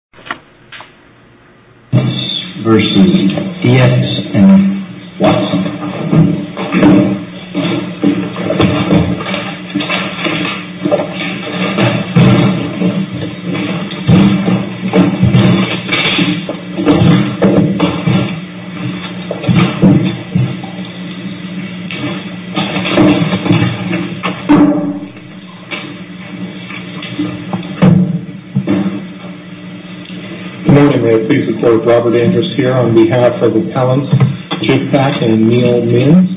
DIETZ v. DIETZ & WATSON Good morning, may I please report, Robert Andrews here on behalf of Appellants Jig Pack and Neal Means.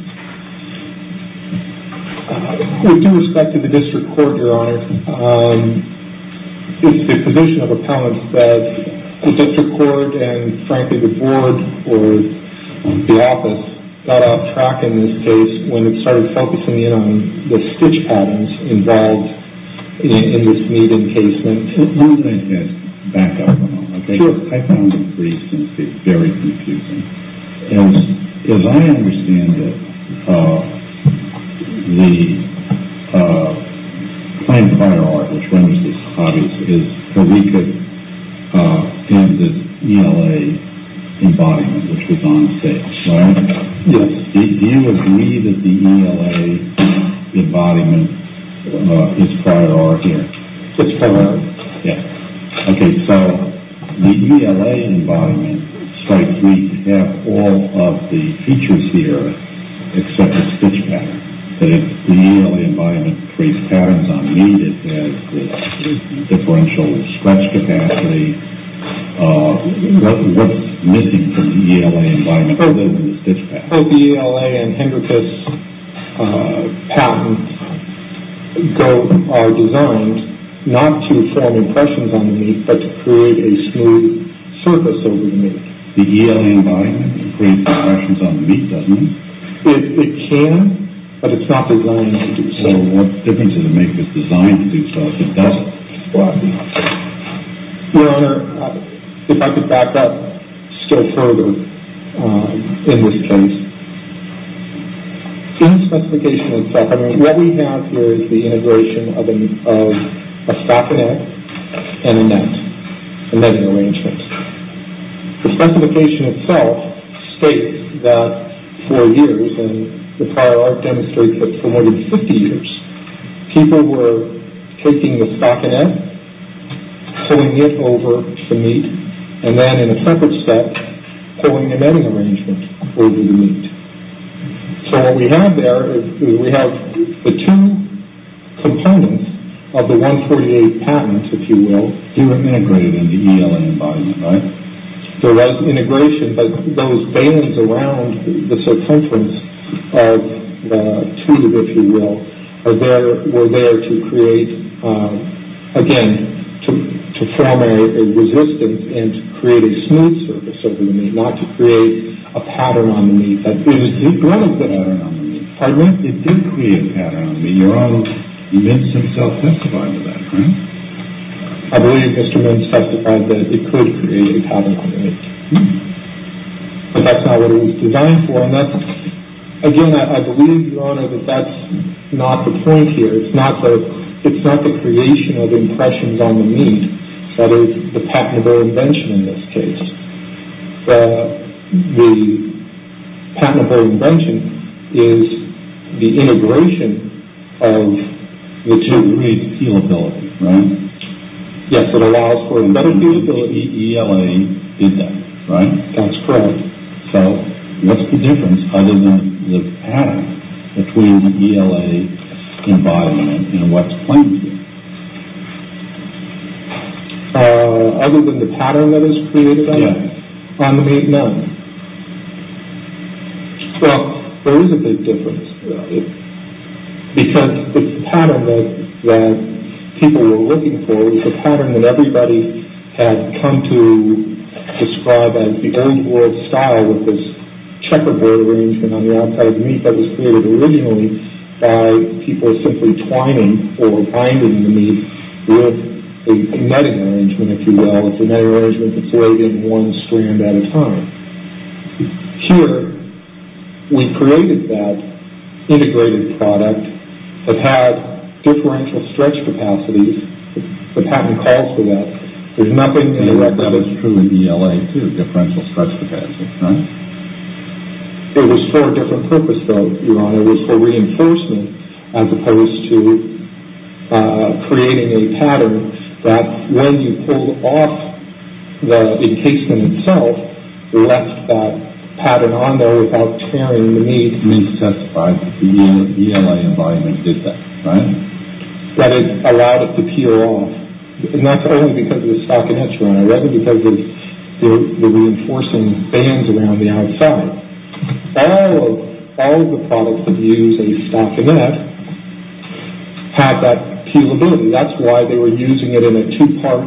With due respect to the District Court, Your Honor, it's the position of Appellants that the District Court and frankly the Board or the Office got off track in this case when it started focusing in on the stitch patterns involved in this need encasement. As long as I can back up a moment, okay? Sure. I found it very confusing. As I understand it, the plain prior art, which renders this obvious, is that we could have this ELA embodiment which was on stage, right? Yes. Do you agree that the ELA embodiment is prior art here? It's prior art. Yes. Okay, so the ELA embodiment strikes me to have all of the features here except the stitch pattern. The ELA embodiment creates patterns on me that has differential stretch capacity. What's missing from the ELA embodiment other than the stitch pattern? The ELA and Hendrickus pattern are designed not to form impressions on the meat, but to create a smooth surface over the meat. The ELA embodiment creates impressions on the meat, doesn't it? It can, but it's not designed to do so. Well, what difference does it make if it's designed to do so if it doesn't? Well, I don't know. Your Honor, if I could back up still further in this case. In the specification itself, what we have here is the integration of a stockinette and a net, a netting arrangement. The specification itself states that for years, and the prior art demonstrates that for more than 50 years, people were taking the stockinette, pulling it over the meat, and then in a separate set, pulling a netting arrangement over the meat. So what we have there is we have the two components of the 148 patents, if you will, integrated in the ELA embodiment, right? So that's integration, but those veins around the circumference of the tube, if you will, were there to create, again, to form a resistance and to create a smooth surface over the meat, not to create a pattern on the meat. It did create a pattern on the meat. Pardon me? It did create a pattern on the meat. Your Honor, the mince himself testified to that, correct? I believe Mr. Mince testified that it could create a pattern on the meat. But that's not what it was designed for, and that's, again, I believe, Your Honor, that that's not the point here. It's not the creation of impressions on the meat that is the patentable invention in this case. The patentable invention is the integration of the two. It creates feelability, right? Yes, it allows for better feelability. ELA did that, right? That's correct. So what's the difference other than the pattern between the ELA embodiment and what's claimed here? Other than the pattern that is created? Yes. On the meat? No. Well, there is a big difference. Because the pattern that people were looking for was a pattern that everybody had come to describe as the old world style with this checkerboard arrangement on the outside of the meat that was created by people simply twining or winding the meat with a netting arrangement, if you will. It's a netting arrangement that's weighted one strand at a time. Here, we've created that integrated product that has differential stretch capacities. The patent calls for that. There's nothing in the record. That is true in ELA, too, differential stretch capacities, right? It was for a different purpose, though, Your Honor. It was for reinforcement as opposed to creating a pattern that when you pulled off the encasement itself, left that pattern on there without tearing the meat. Meat testified that the ELA embodiment did that, right? That it allowed it to peel off. That's only because of the stockinette, Your Honor, rather than because of the reinforcing bands around the outside. All of the products that use a stockinette have that peelability. That's why they were using it in a two-part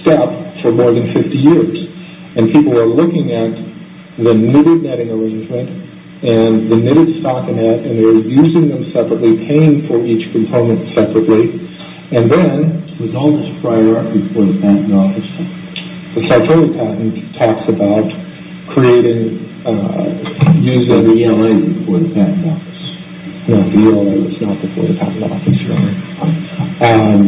step for more than 50 years. People were looking at the knitted netting arrangement and the knitted stockinette, and they were using them separately, paying for each component separately. And then, with all this prior record before the patent office, the Sartori patent talks about using the ELA before the patent office. No, the ELA was not before the patent office, Your Honor.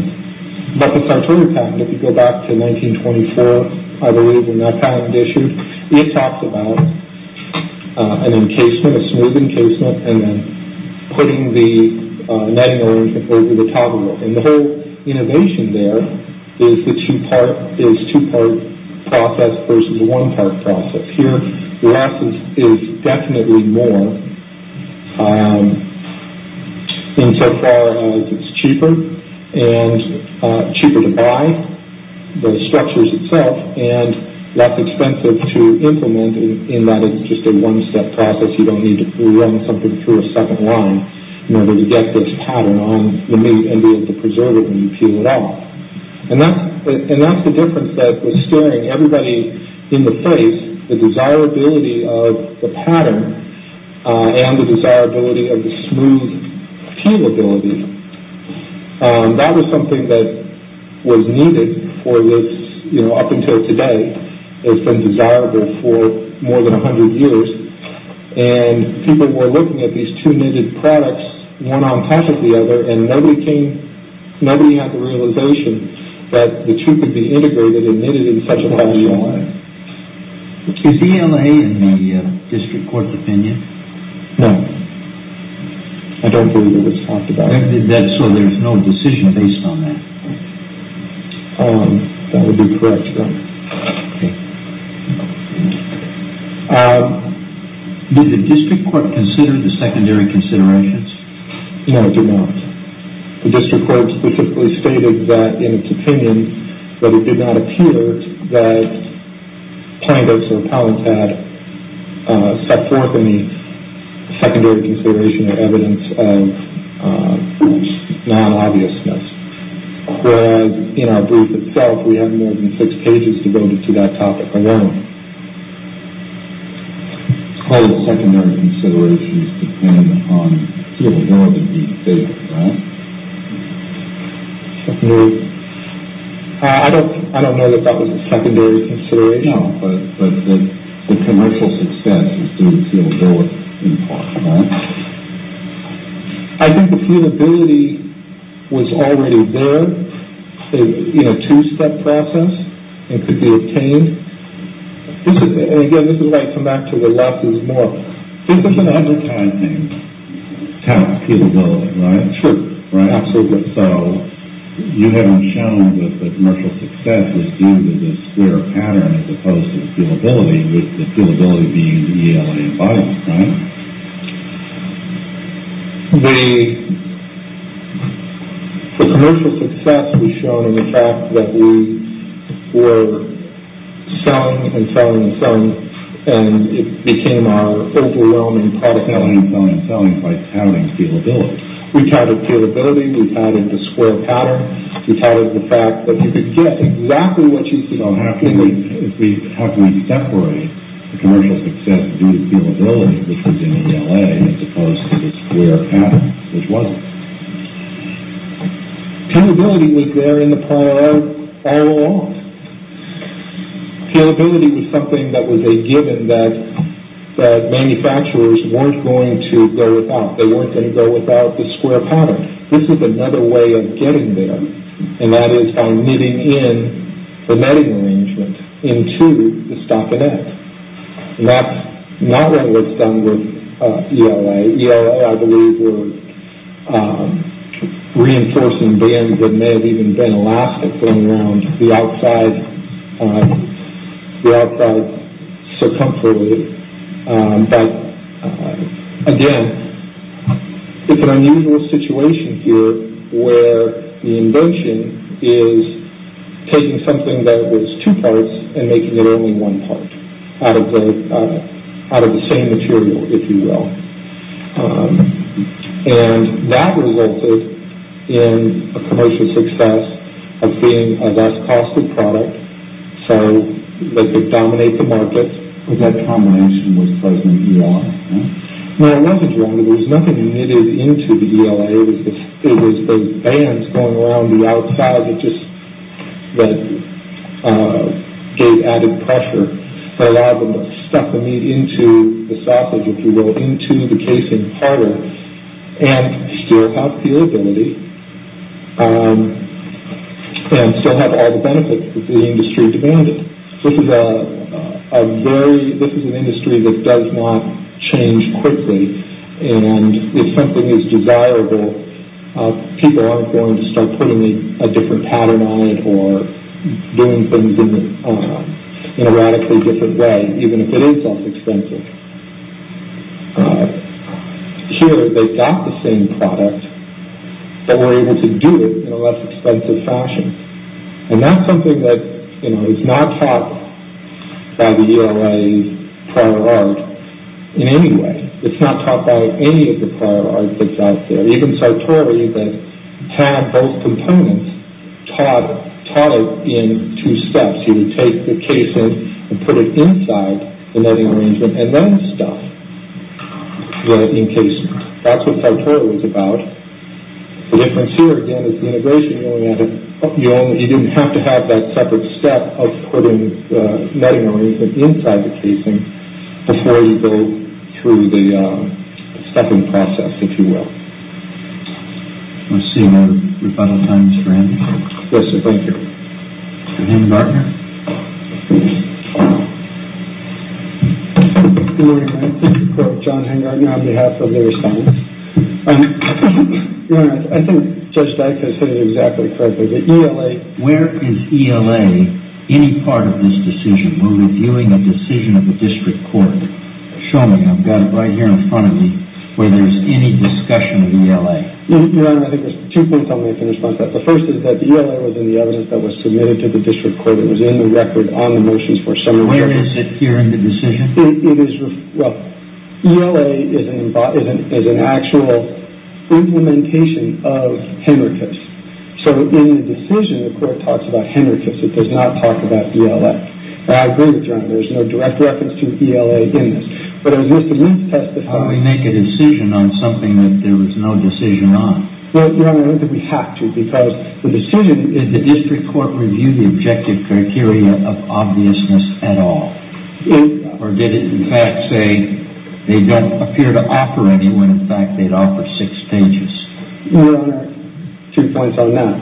But the Sartori patent, if you go back to 1924, I believe, when that patent was issued, it talks about an encasement, a smooth encasement, and then putting the netting arrangement over the top of it. And the whole innovation there is the two-part process versus the one-part process. Here, less is definitely more, insofar as it's cheaper to buy the structures itself and less expensive to implement in that it's just a one-step process. You don't need to run something through a second line in order to get this pattern on the meat and be able to preserve it when you peel it off. And that's the difference that was scaring everybody in the face, the desirability of the pattern and the desirability of the smooth peelability. That was something that was needed up until today. It's been desirable for more than 100 years. And people were looking at these two knitted products, one on top of the other, and nobody had the realization that the two could be integrated and knitted in such a wonderful way. Is ELA in the district court's opinion? No. I don't believe it was talked about. So there's no decision based on that? That would be correct, yes. Did the district court consider the secondary considerations? No, it did not. The district court specifically stated that, in its opinion, that it did not appear that plaintiffs or appellants had stepped forth without any secondary consideration or evidence of non-obviousness. Whereas, in our brief itself, we have more than six pages devoted to that topic alone. All the secondary considerations depend on peelability being safe, right? I don't know that that was a secondary consideration. No, but the commercial success is due to peelability in part, right? I think the peelability was already there in a two-step process and could be obtained. And again, this is where I come back to the losses more. This is an advertising task, peelability, right? Sure. Absolutely. So you haven't shown that the commercial success is due to this clear pattern as opposed to the peelability, with the peelability being ELA and violence, right? The commercial success was shown in the fact that we were selling and selling and selling, and it became our overwhelming product. Selling and selling and selling by touting peelability. We touted peelability. We touted the square pattern. We touted the fact that you could get exactly what you see. How can we separate the commercial success due to peelability, which was in ELA, as opposed to the square pattern, which wasn't? Peelability was there in the prior all along. Peelability was something that was a given that manufacturers weren't going to go without. This is another way of getting there, and that is by knitting in the netting arrangement into the stockinette. And that's not what was done with ELA. ELA, I believe, were reinforcing bands that may have even been elastic going around the outside, the outside circumferably. But, again, it's an unusual situation here where the invention is taking something that was two parts and making it only one part out of the same material, if you will. And that resulted in a commercial success of being a less costly product, so they could dominate the market. That combination was present in ELA. Now, it wasn't wrong. There was nothing knitted into the ELA. It was those bands going around the outside that just gave added pressure that allowed them to stuff the meat into the sausage, if you will, into the casing harder and still have peelability and still have all the benefits that the industry demanded. This is an industry that does not change quickly, and if something is desirable, people aren't going to start putting a different pattern on it or doing things in a radically different way, even if it is less expensive. Here, they got the same product, but were able to do it in a less expensive fashion. And that's something that is not taught by the ELA prior art in any way. It's not taught by any of the prior art that's out there. Even Sartori, that had both components, taught it in two steps. It allows you to take the casing and put it inside the netting arrangement and then stuff the casing. That's what Sartori was about. The difference here, again, is the integration. You didn't have to have that separate step of putting the netting arrangement inside the casing before you go through the stuffing process, if you will. I see no rebuttal times for anything. Yes, sir. Thank you. Mr. Hengartner? Good morning, Your Honor. John Hengartner on behalf of the Assembly. Your Honor, I think Judge Dyke has hit it exactly correctly. The ELA Where is ELA any part of this decision? We're reviewing a decision of the district court. Show me. I've got it right here in front of me where there's any discussion of ELA. Your Honor, I think there's two things I'll make in response to that. The first is that ELA was in the evidence that was submitted to the district court. It was in the record on the motions for summary hearing. Where is it here in the decision? Well, ELA is an actual implementation of Henricus. So in the decision, the court talks about Henricus. It does not talk about ELA. And I agree with you, Your Honor. There's no direct reference to ELA in this. But as Mr. Leath testified How do we make a decision on something that there was no decision on? Well, Your Honor, I don't think we have to. Because the decision is the district court review the objective criteria of obviousness at all. Or did it in fact say they don't appear to offer any when in fact they'd offer six stages? Your Honor, two points on that.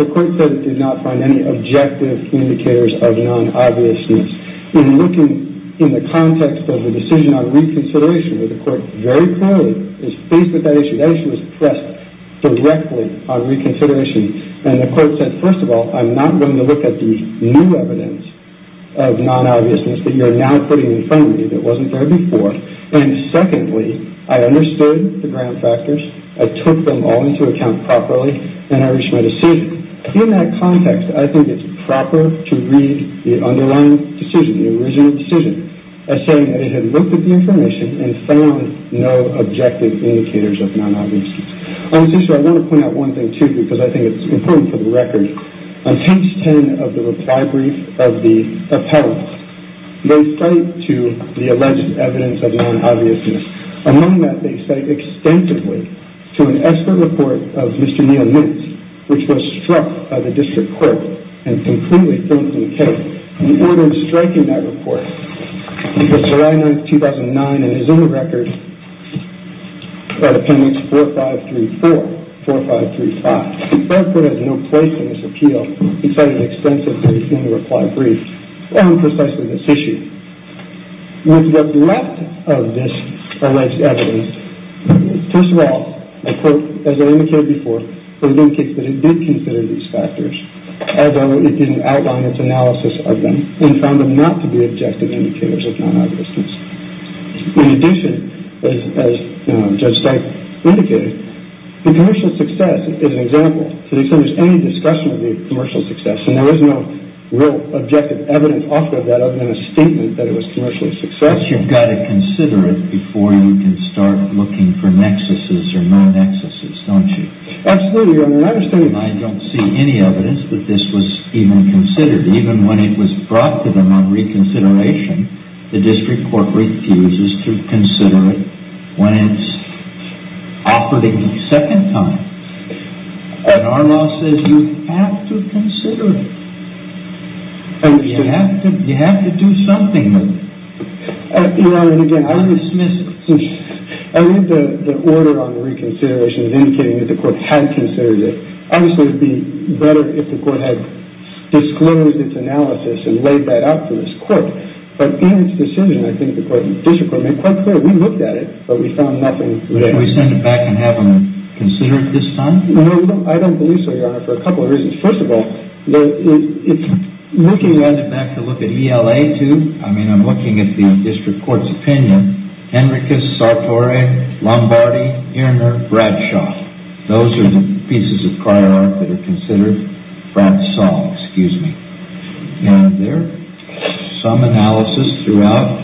The court said it did not find any objective indicators of non-obviousness. When you look in the context of the decision on reconsideration, the court very clearly is faced with that issue. That issue was pressed directly on reconsideration. And the court said, first of all, I'm not going to look at the new evidence of non-obviousness that you're now putting in front of me that wasn't there before. And secondly, I understood the ground factors. I took them all into account properly. And I reached my decision. In that context, I think it's proper to read the underlying decision, the original decision, as saying that it had looked at the information and found no objective indicators of non-obviousness. On this issue, I want to point out one thing, too, because I think it's important for the record. On page 10 of the reply brief of the appellant, they cite to the alleged evidence of non-obviousness. Among that, they cite extensively to an expert report of Mr. Neal Mintz, which was struck by the district court and completely filled in the cake. The order striking that report was July 9, 2009, and is in the record, appendix 4534, 4535. The court has no place in this appeal. He cited extensively in the reply brief on precisely this issue. With what's left of this alleged evidence, first of all, I quote, as I indicated before, that it did consider these factors, although it didn't outline its analysis of them and found them not to be objective indicators of non-obviousness. In addition, as Judge Stipe indicated, the commercial success is an example. If there's any discussion of the commercial success, and there is no real objective evidence off of that other than a statement that it was commercially successful. But you've got to consider it before you can start looking for nexuses or non-nexuses, don't you? Absolutely. I understand. And I don't see any evidence that this was even considered. Even when it was brought to them on reconsideration, the district court refuses to consider it when it's offered a second time. And our law says you have to consider it. You have to do something with it. I read the order on reconsideration indicating that the court had considered it. Obviously, it would be better if the court had disclosed its analysis and laid that out to this court. But in its decision, I think the district court made quite clear we looked at it, but we found nothing there. Can we send it back and have them consider it this time? I don't believe so, Your Honor, for a couple of reasons. First of all, it's looking at— It's back to look at ELA, too? I mean, I'm looking at the district court's opinion. Henricus Sartore, Lombardi, Irner, Bradshaw. Those are the pieces of prior art that are considered. Brad Saul, excuse me. And there's some analysis throughout,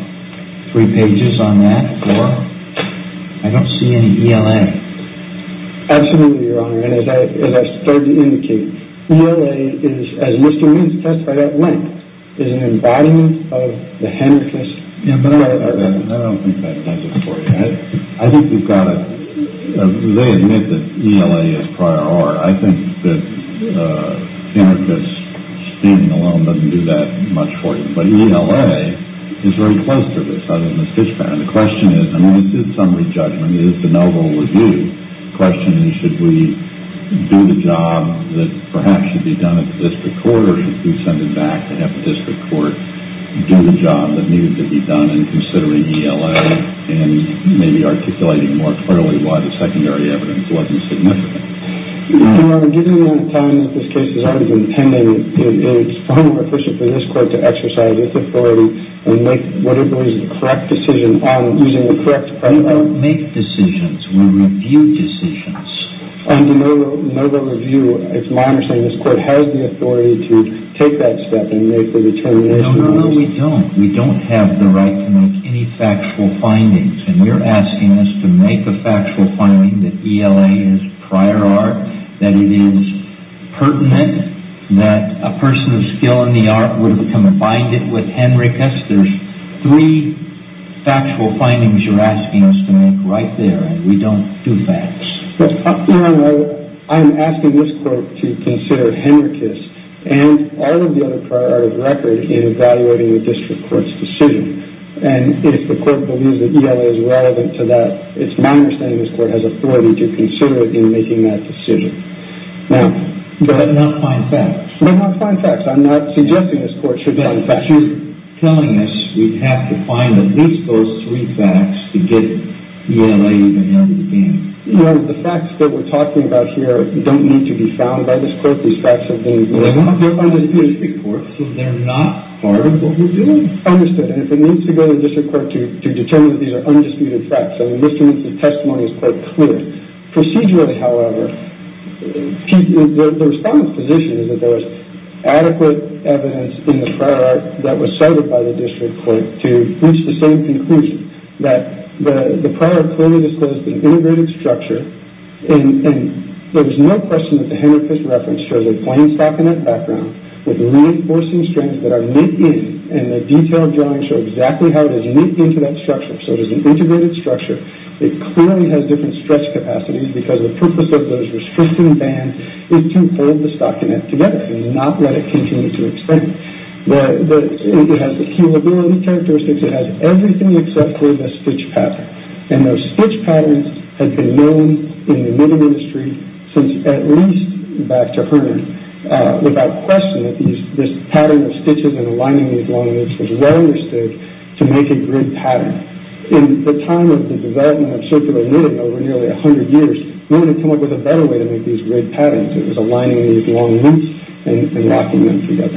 three pages on that. I don't see any ELA. Absolutely, Your Honor. And as I started to indicate, ELA is, as Mr. Reed testified at length, is an embodiment of the Henricus— Yeah, but I don't think that does it for you. I think you've got to— They admit that ELA is prior art. I think that Henricus standing alone doesn't do that much for you. But ELA is very close to this, other than the Fish Ban. And the question is—I mean, it is summary judgment. It is the noble review. The question is, should we do the job that perhaps should be done at the district court or should we send it back to have the district court do the job that needed to be done in considering ELA and maybe articulating more clearly why the secondary evidence wasn't significant? Your Honor, given the time that this case has already been pending, it's far more efficient for this court to exercise its authority and make what it believes is the correct decision using the correct— We don't make decisions. We review decisions. And the noble review, it's my understanding, this court has the authority to take that step and make the determination— No, no, no, we don't. We don't have the right to make any factual findings. And we're asking this to make a factual finding that ELA is prior art, that it is pertinent, that a person of skill in the art would have come and bind it with Henricus. There's three factual findings you're asking us to make right there, and we don't do facts. Your Honor, I'm asking this court to consider Henricus and all of the other prior art of record in evaluating the district court's decision. And if the court believes that ELA is relevant to that, it's my understanding this court has authority to consider it in making that decision. Now— But not find facts. But not find facts. I'm not suggesting this court should find facts. But you're telling us we have to find at least those three facts to get ELA to handle the case. Your Honor, the facts that we're talking about here don't need to be found by this court. These facts have been— They're not part of the district court, so they're not part of what we're doing. Understood. And if it needs to go to district court to determine that these are undisputed facts, I mean, this means the testimony is quite clear. Procedurally, however, the Respondent's position is that there is adequate evidence in the prior art that was cited by the district court to reach the same conclusion, that the prior art clearly disclosed an integrated structure, and there was no question that the Henricus reference shows a plain stock in that background with reinforcing strands that are knit in, and the detailed drawings show exactly how it is knit into that structure. So it is an integrated structure. It clearly has different stretch capacities, because the purpose of those restricting bands is to hold the stock in it together and not let it continue to extend. But it has the keelability characteristics. It has everything except for the stitch pattern. And those stitch patterns have been known in the knitting industry since at least back to Herman without question that this pattern of stitches and aligning these long loops was well understood to make a grid pattern. In the time of the development of circular knitting over nearly 100 years, no one had come up with a better way to make these grid patterns. It was aligning these long loops and locking them together.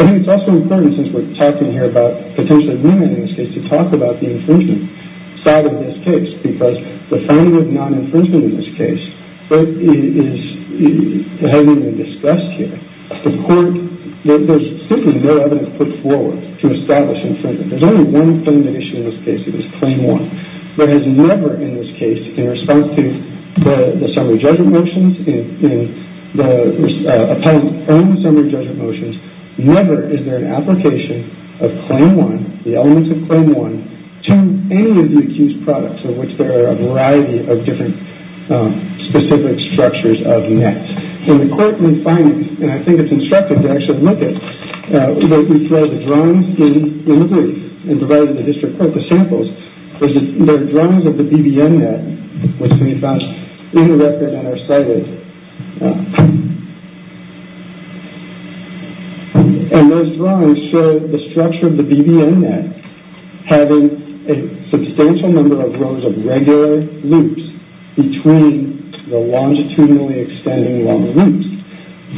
I think it's also important, since we're talking here about potential agreement in this case, to talk about the infringement side of this case, because the finding of non-infringement in this case is heavily discussed here. There's simply no evidence put forward to establish infringement. There's only one thing that issues in this case. It is Claim 1. There is never in this case, in response to the summary judgment motions, in the appellant's own summary judgment motions, never is there an application of Claim 1, the elements of Claim 1, to any of the accused products of which there are a variety of different specific structures of nets. In the court, we find, and I think it's instructive to actually look at, that we throw the drawings in the brief, and provided the district court the samples, there are drawings of the BBN net, which we found interrupted on our site. And those drawings show the structure of the BBN net having a substantial number of rows of regular loops between the longitudinally extending long loops.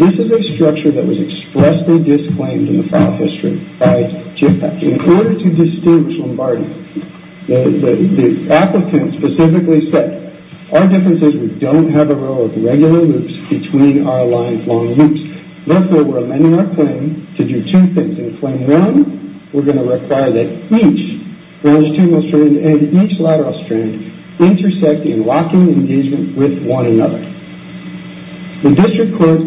This is a structure that was expressly disclaimed in the file history by JFFAC. In order to distinguish Lombardi, the applicant specifically said, our difference is we don't have a row of regular loops between our lines, long loops. Therefore, we're amending our claim to do two things. In Claim 1, we're going to require that each longitudinal strand and each lateral strand intersect in locking engagement with one another. The district court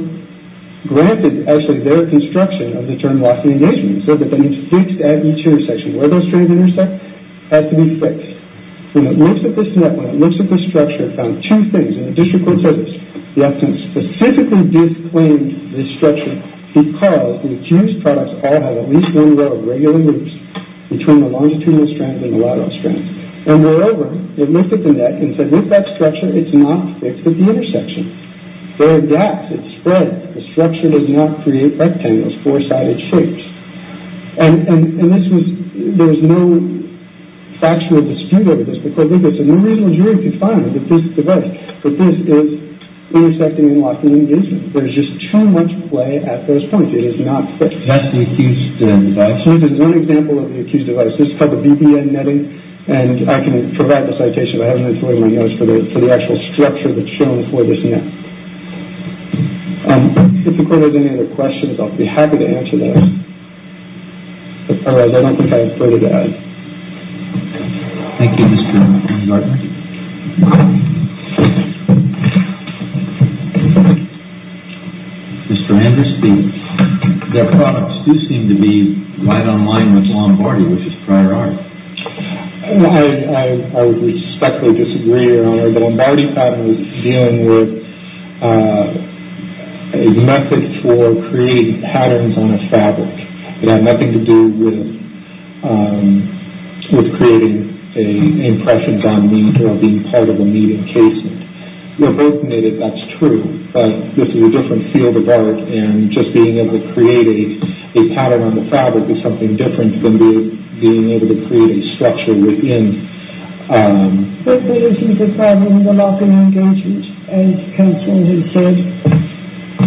granted actually their construction of the term locking engagement, so that they need to fix at each intersection where those strands intersect has to be fixed. When it looks at this net, when it looks at this structure, it found two things, and the district court says this. The applicant specifically disclaimed this structure because the accused products all have at least one row of regular loops between the longitudinal strands and the lateral strands. And moreover, it looked at the net and said with that structure, it's not fixed at the intersection. There are gaps. It's spread. The structure does not create rectangles, four-sided shapes. And this was, there was no factual dispute over this because there's no reason the jury could find that this is the case. But this is intersecting and locking engagement. There's just too much play at those points. It is not fixed. That's the accused device? This is one example of the accused device. This is called the BPN netting, and I can provide the citation. I haven't been throwing my notes for the actual structure that's shown for this net. If the court has any other questions, I'll be happy to answer those. Otherwise, I don't think I have further to add. Thank you, Mr. Gardner. Thank you. Mr. Anderson, their products do seem to be quite on line with Lombardi, which is prior art. I would respectfully disagree, Your Honor. The Lombardi pattern was dealing with a method for creating patterns on a fabric. It had nothing to do with creating impressions on meat or being part of a meat encasement. They're both knitted, that's true. But this is a different field of art, and just being able to create a pattern on the fabric is something different than being able to create a structure within. But there isn't a pattern on the locking engagement, as counsel has said.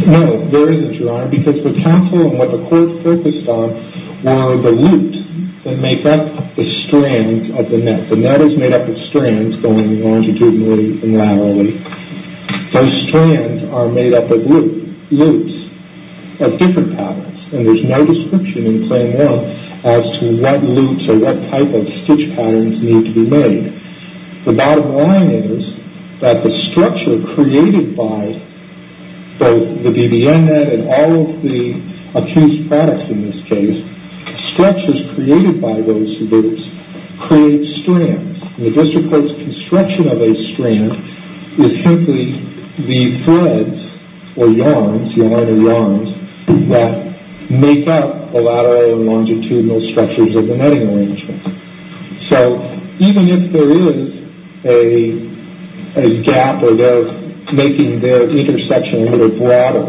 No, there isn't, Your Honor, because the counsel and what the court focused on were the loops that make up the strands of the net. The net is made up of strands going longitudinally and laterally. Those strands are made up of loops of different patterns, and there's no description in plain world as to what loops or what type of stitch patterns need to be made. The bottom line is that the structure created by both the BBN net and all of the accused products in this case, structures created by those loops create strands. The district court's construction of a strand is simply the threads or yarns, yarn or yarns, that make up the lateral and longitudinal structures of the netting arrangement. So even if there is a gap or they're making their intersection a little broader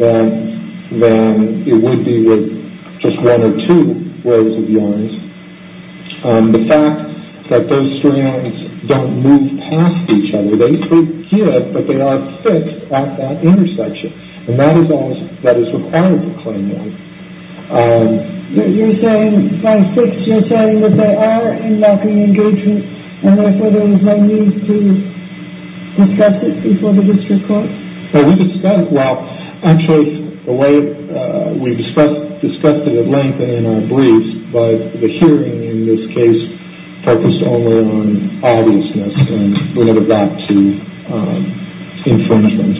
than it would be with just one or two rows of yarns, the fact that those strands don't move past each other, they could get, but they aren't fixed at that intersection, and that is all that is required of the claimant. You're saying, by fix, you're saying that they are unlocking engagement and therefore there is no need to discuss it before the district court? Well, we discussed it at length and in our briefs, but the hearing in this case focused only on obviousness and we never got to infringement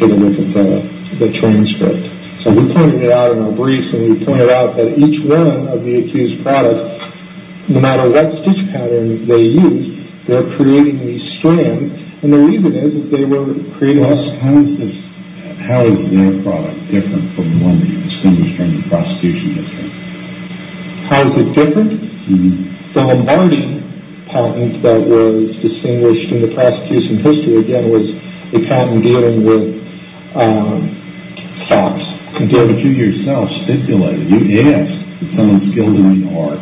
to the length of the transcript. So we pointed it out in our briefs and we pointed out that each one of the accused products, no matter what stitch pattern they used, they're creating these strands and the reason is that they were creating... How is their product different from the one that you distinguished from the prosecution this time? How is it different? The Lombardi patent that was distinguished in the prosecution's history, again, was the patent dealing with fox. But you yourself stipulated, you asked that someone skilled in the art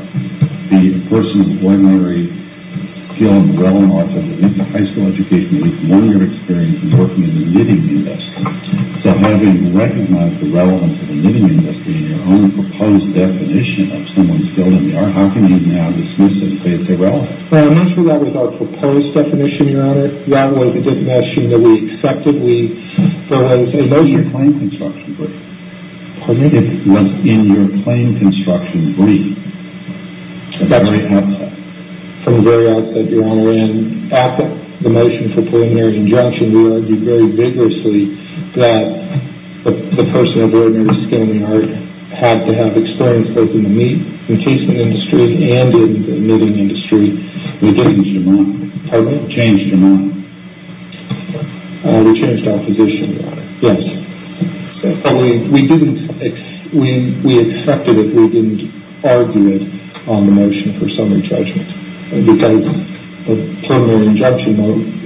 be a person of ordinary skill and well in the arts, have a high school education, a one-year experience working in the knitting industry. So having recognized the relevance of the knitting industry in your own proposed definition of someone skilled in the art, how can you now dismiss it and say it's irrelevant? Well, I'm not sure that was our proposed definition, Your Honor. That was a definition that we accepted. So I would say no to your plain construction brief. Pardon me? It was in your plain construction brief. That's right. From the very outset, Your Honor, and after the motion for preliminary injunction, we argued very vigorously that the person of ordinary skill in the art had to have experience both in the meat and cheese industry and in the knitting industry. We changed your mind. Pardon me? Changed your mind. We changed our position, Your Honor. Yes. But we didn't, we accepted it. We didn't argue it on the motion for summary judgment because the preliminary injunction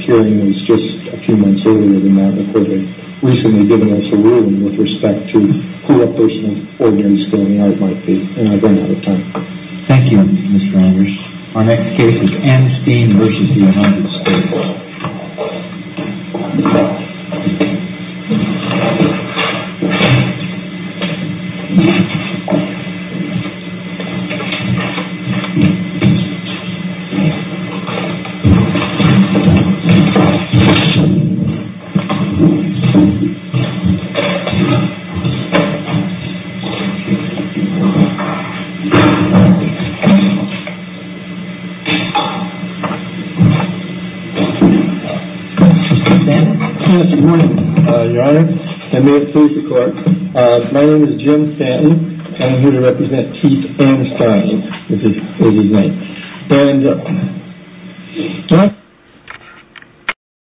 hearing was just a few months earlier than that recording, recently giving us a ruling with respect to who a person of ordinary skill in the art might be. And I've run out of time. Thank you, Mr. Anders. Our next case is Amstein v. United States. Mr. Stanton? Yes, good morning, Your Honor. And may it please the Court, my name is Jim Stanton and I'm here to represent Keith Amstein v. United States. And...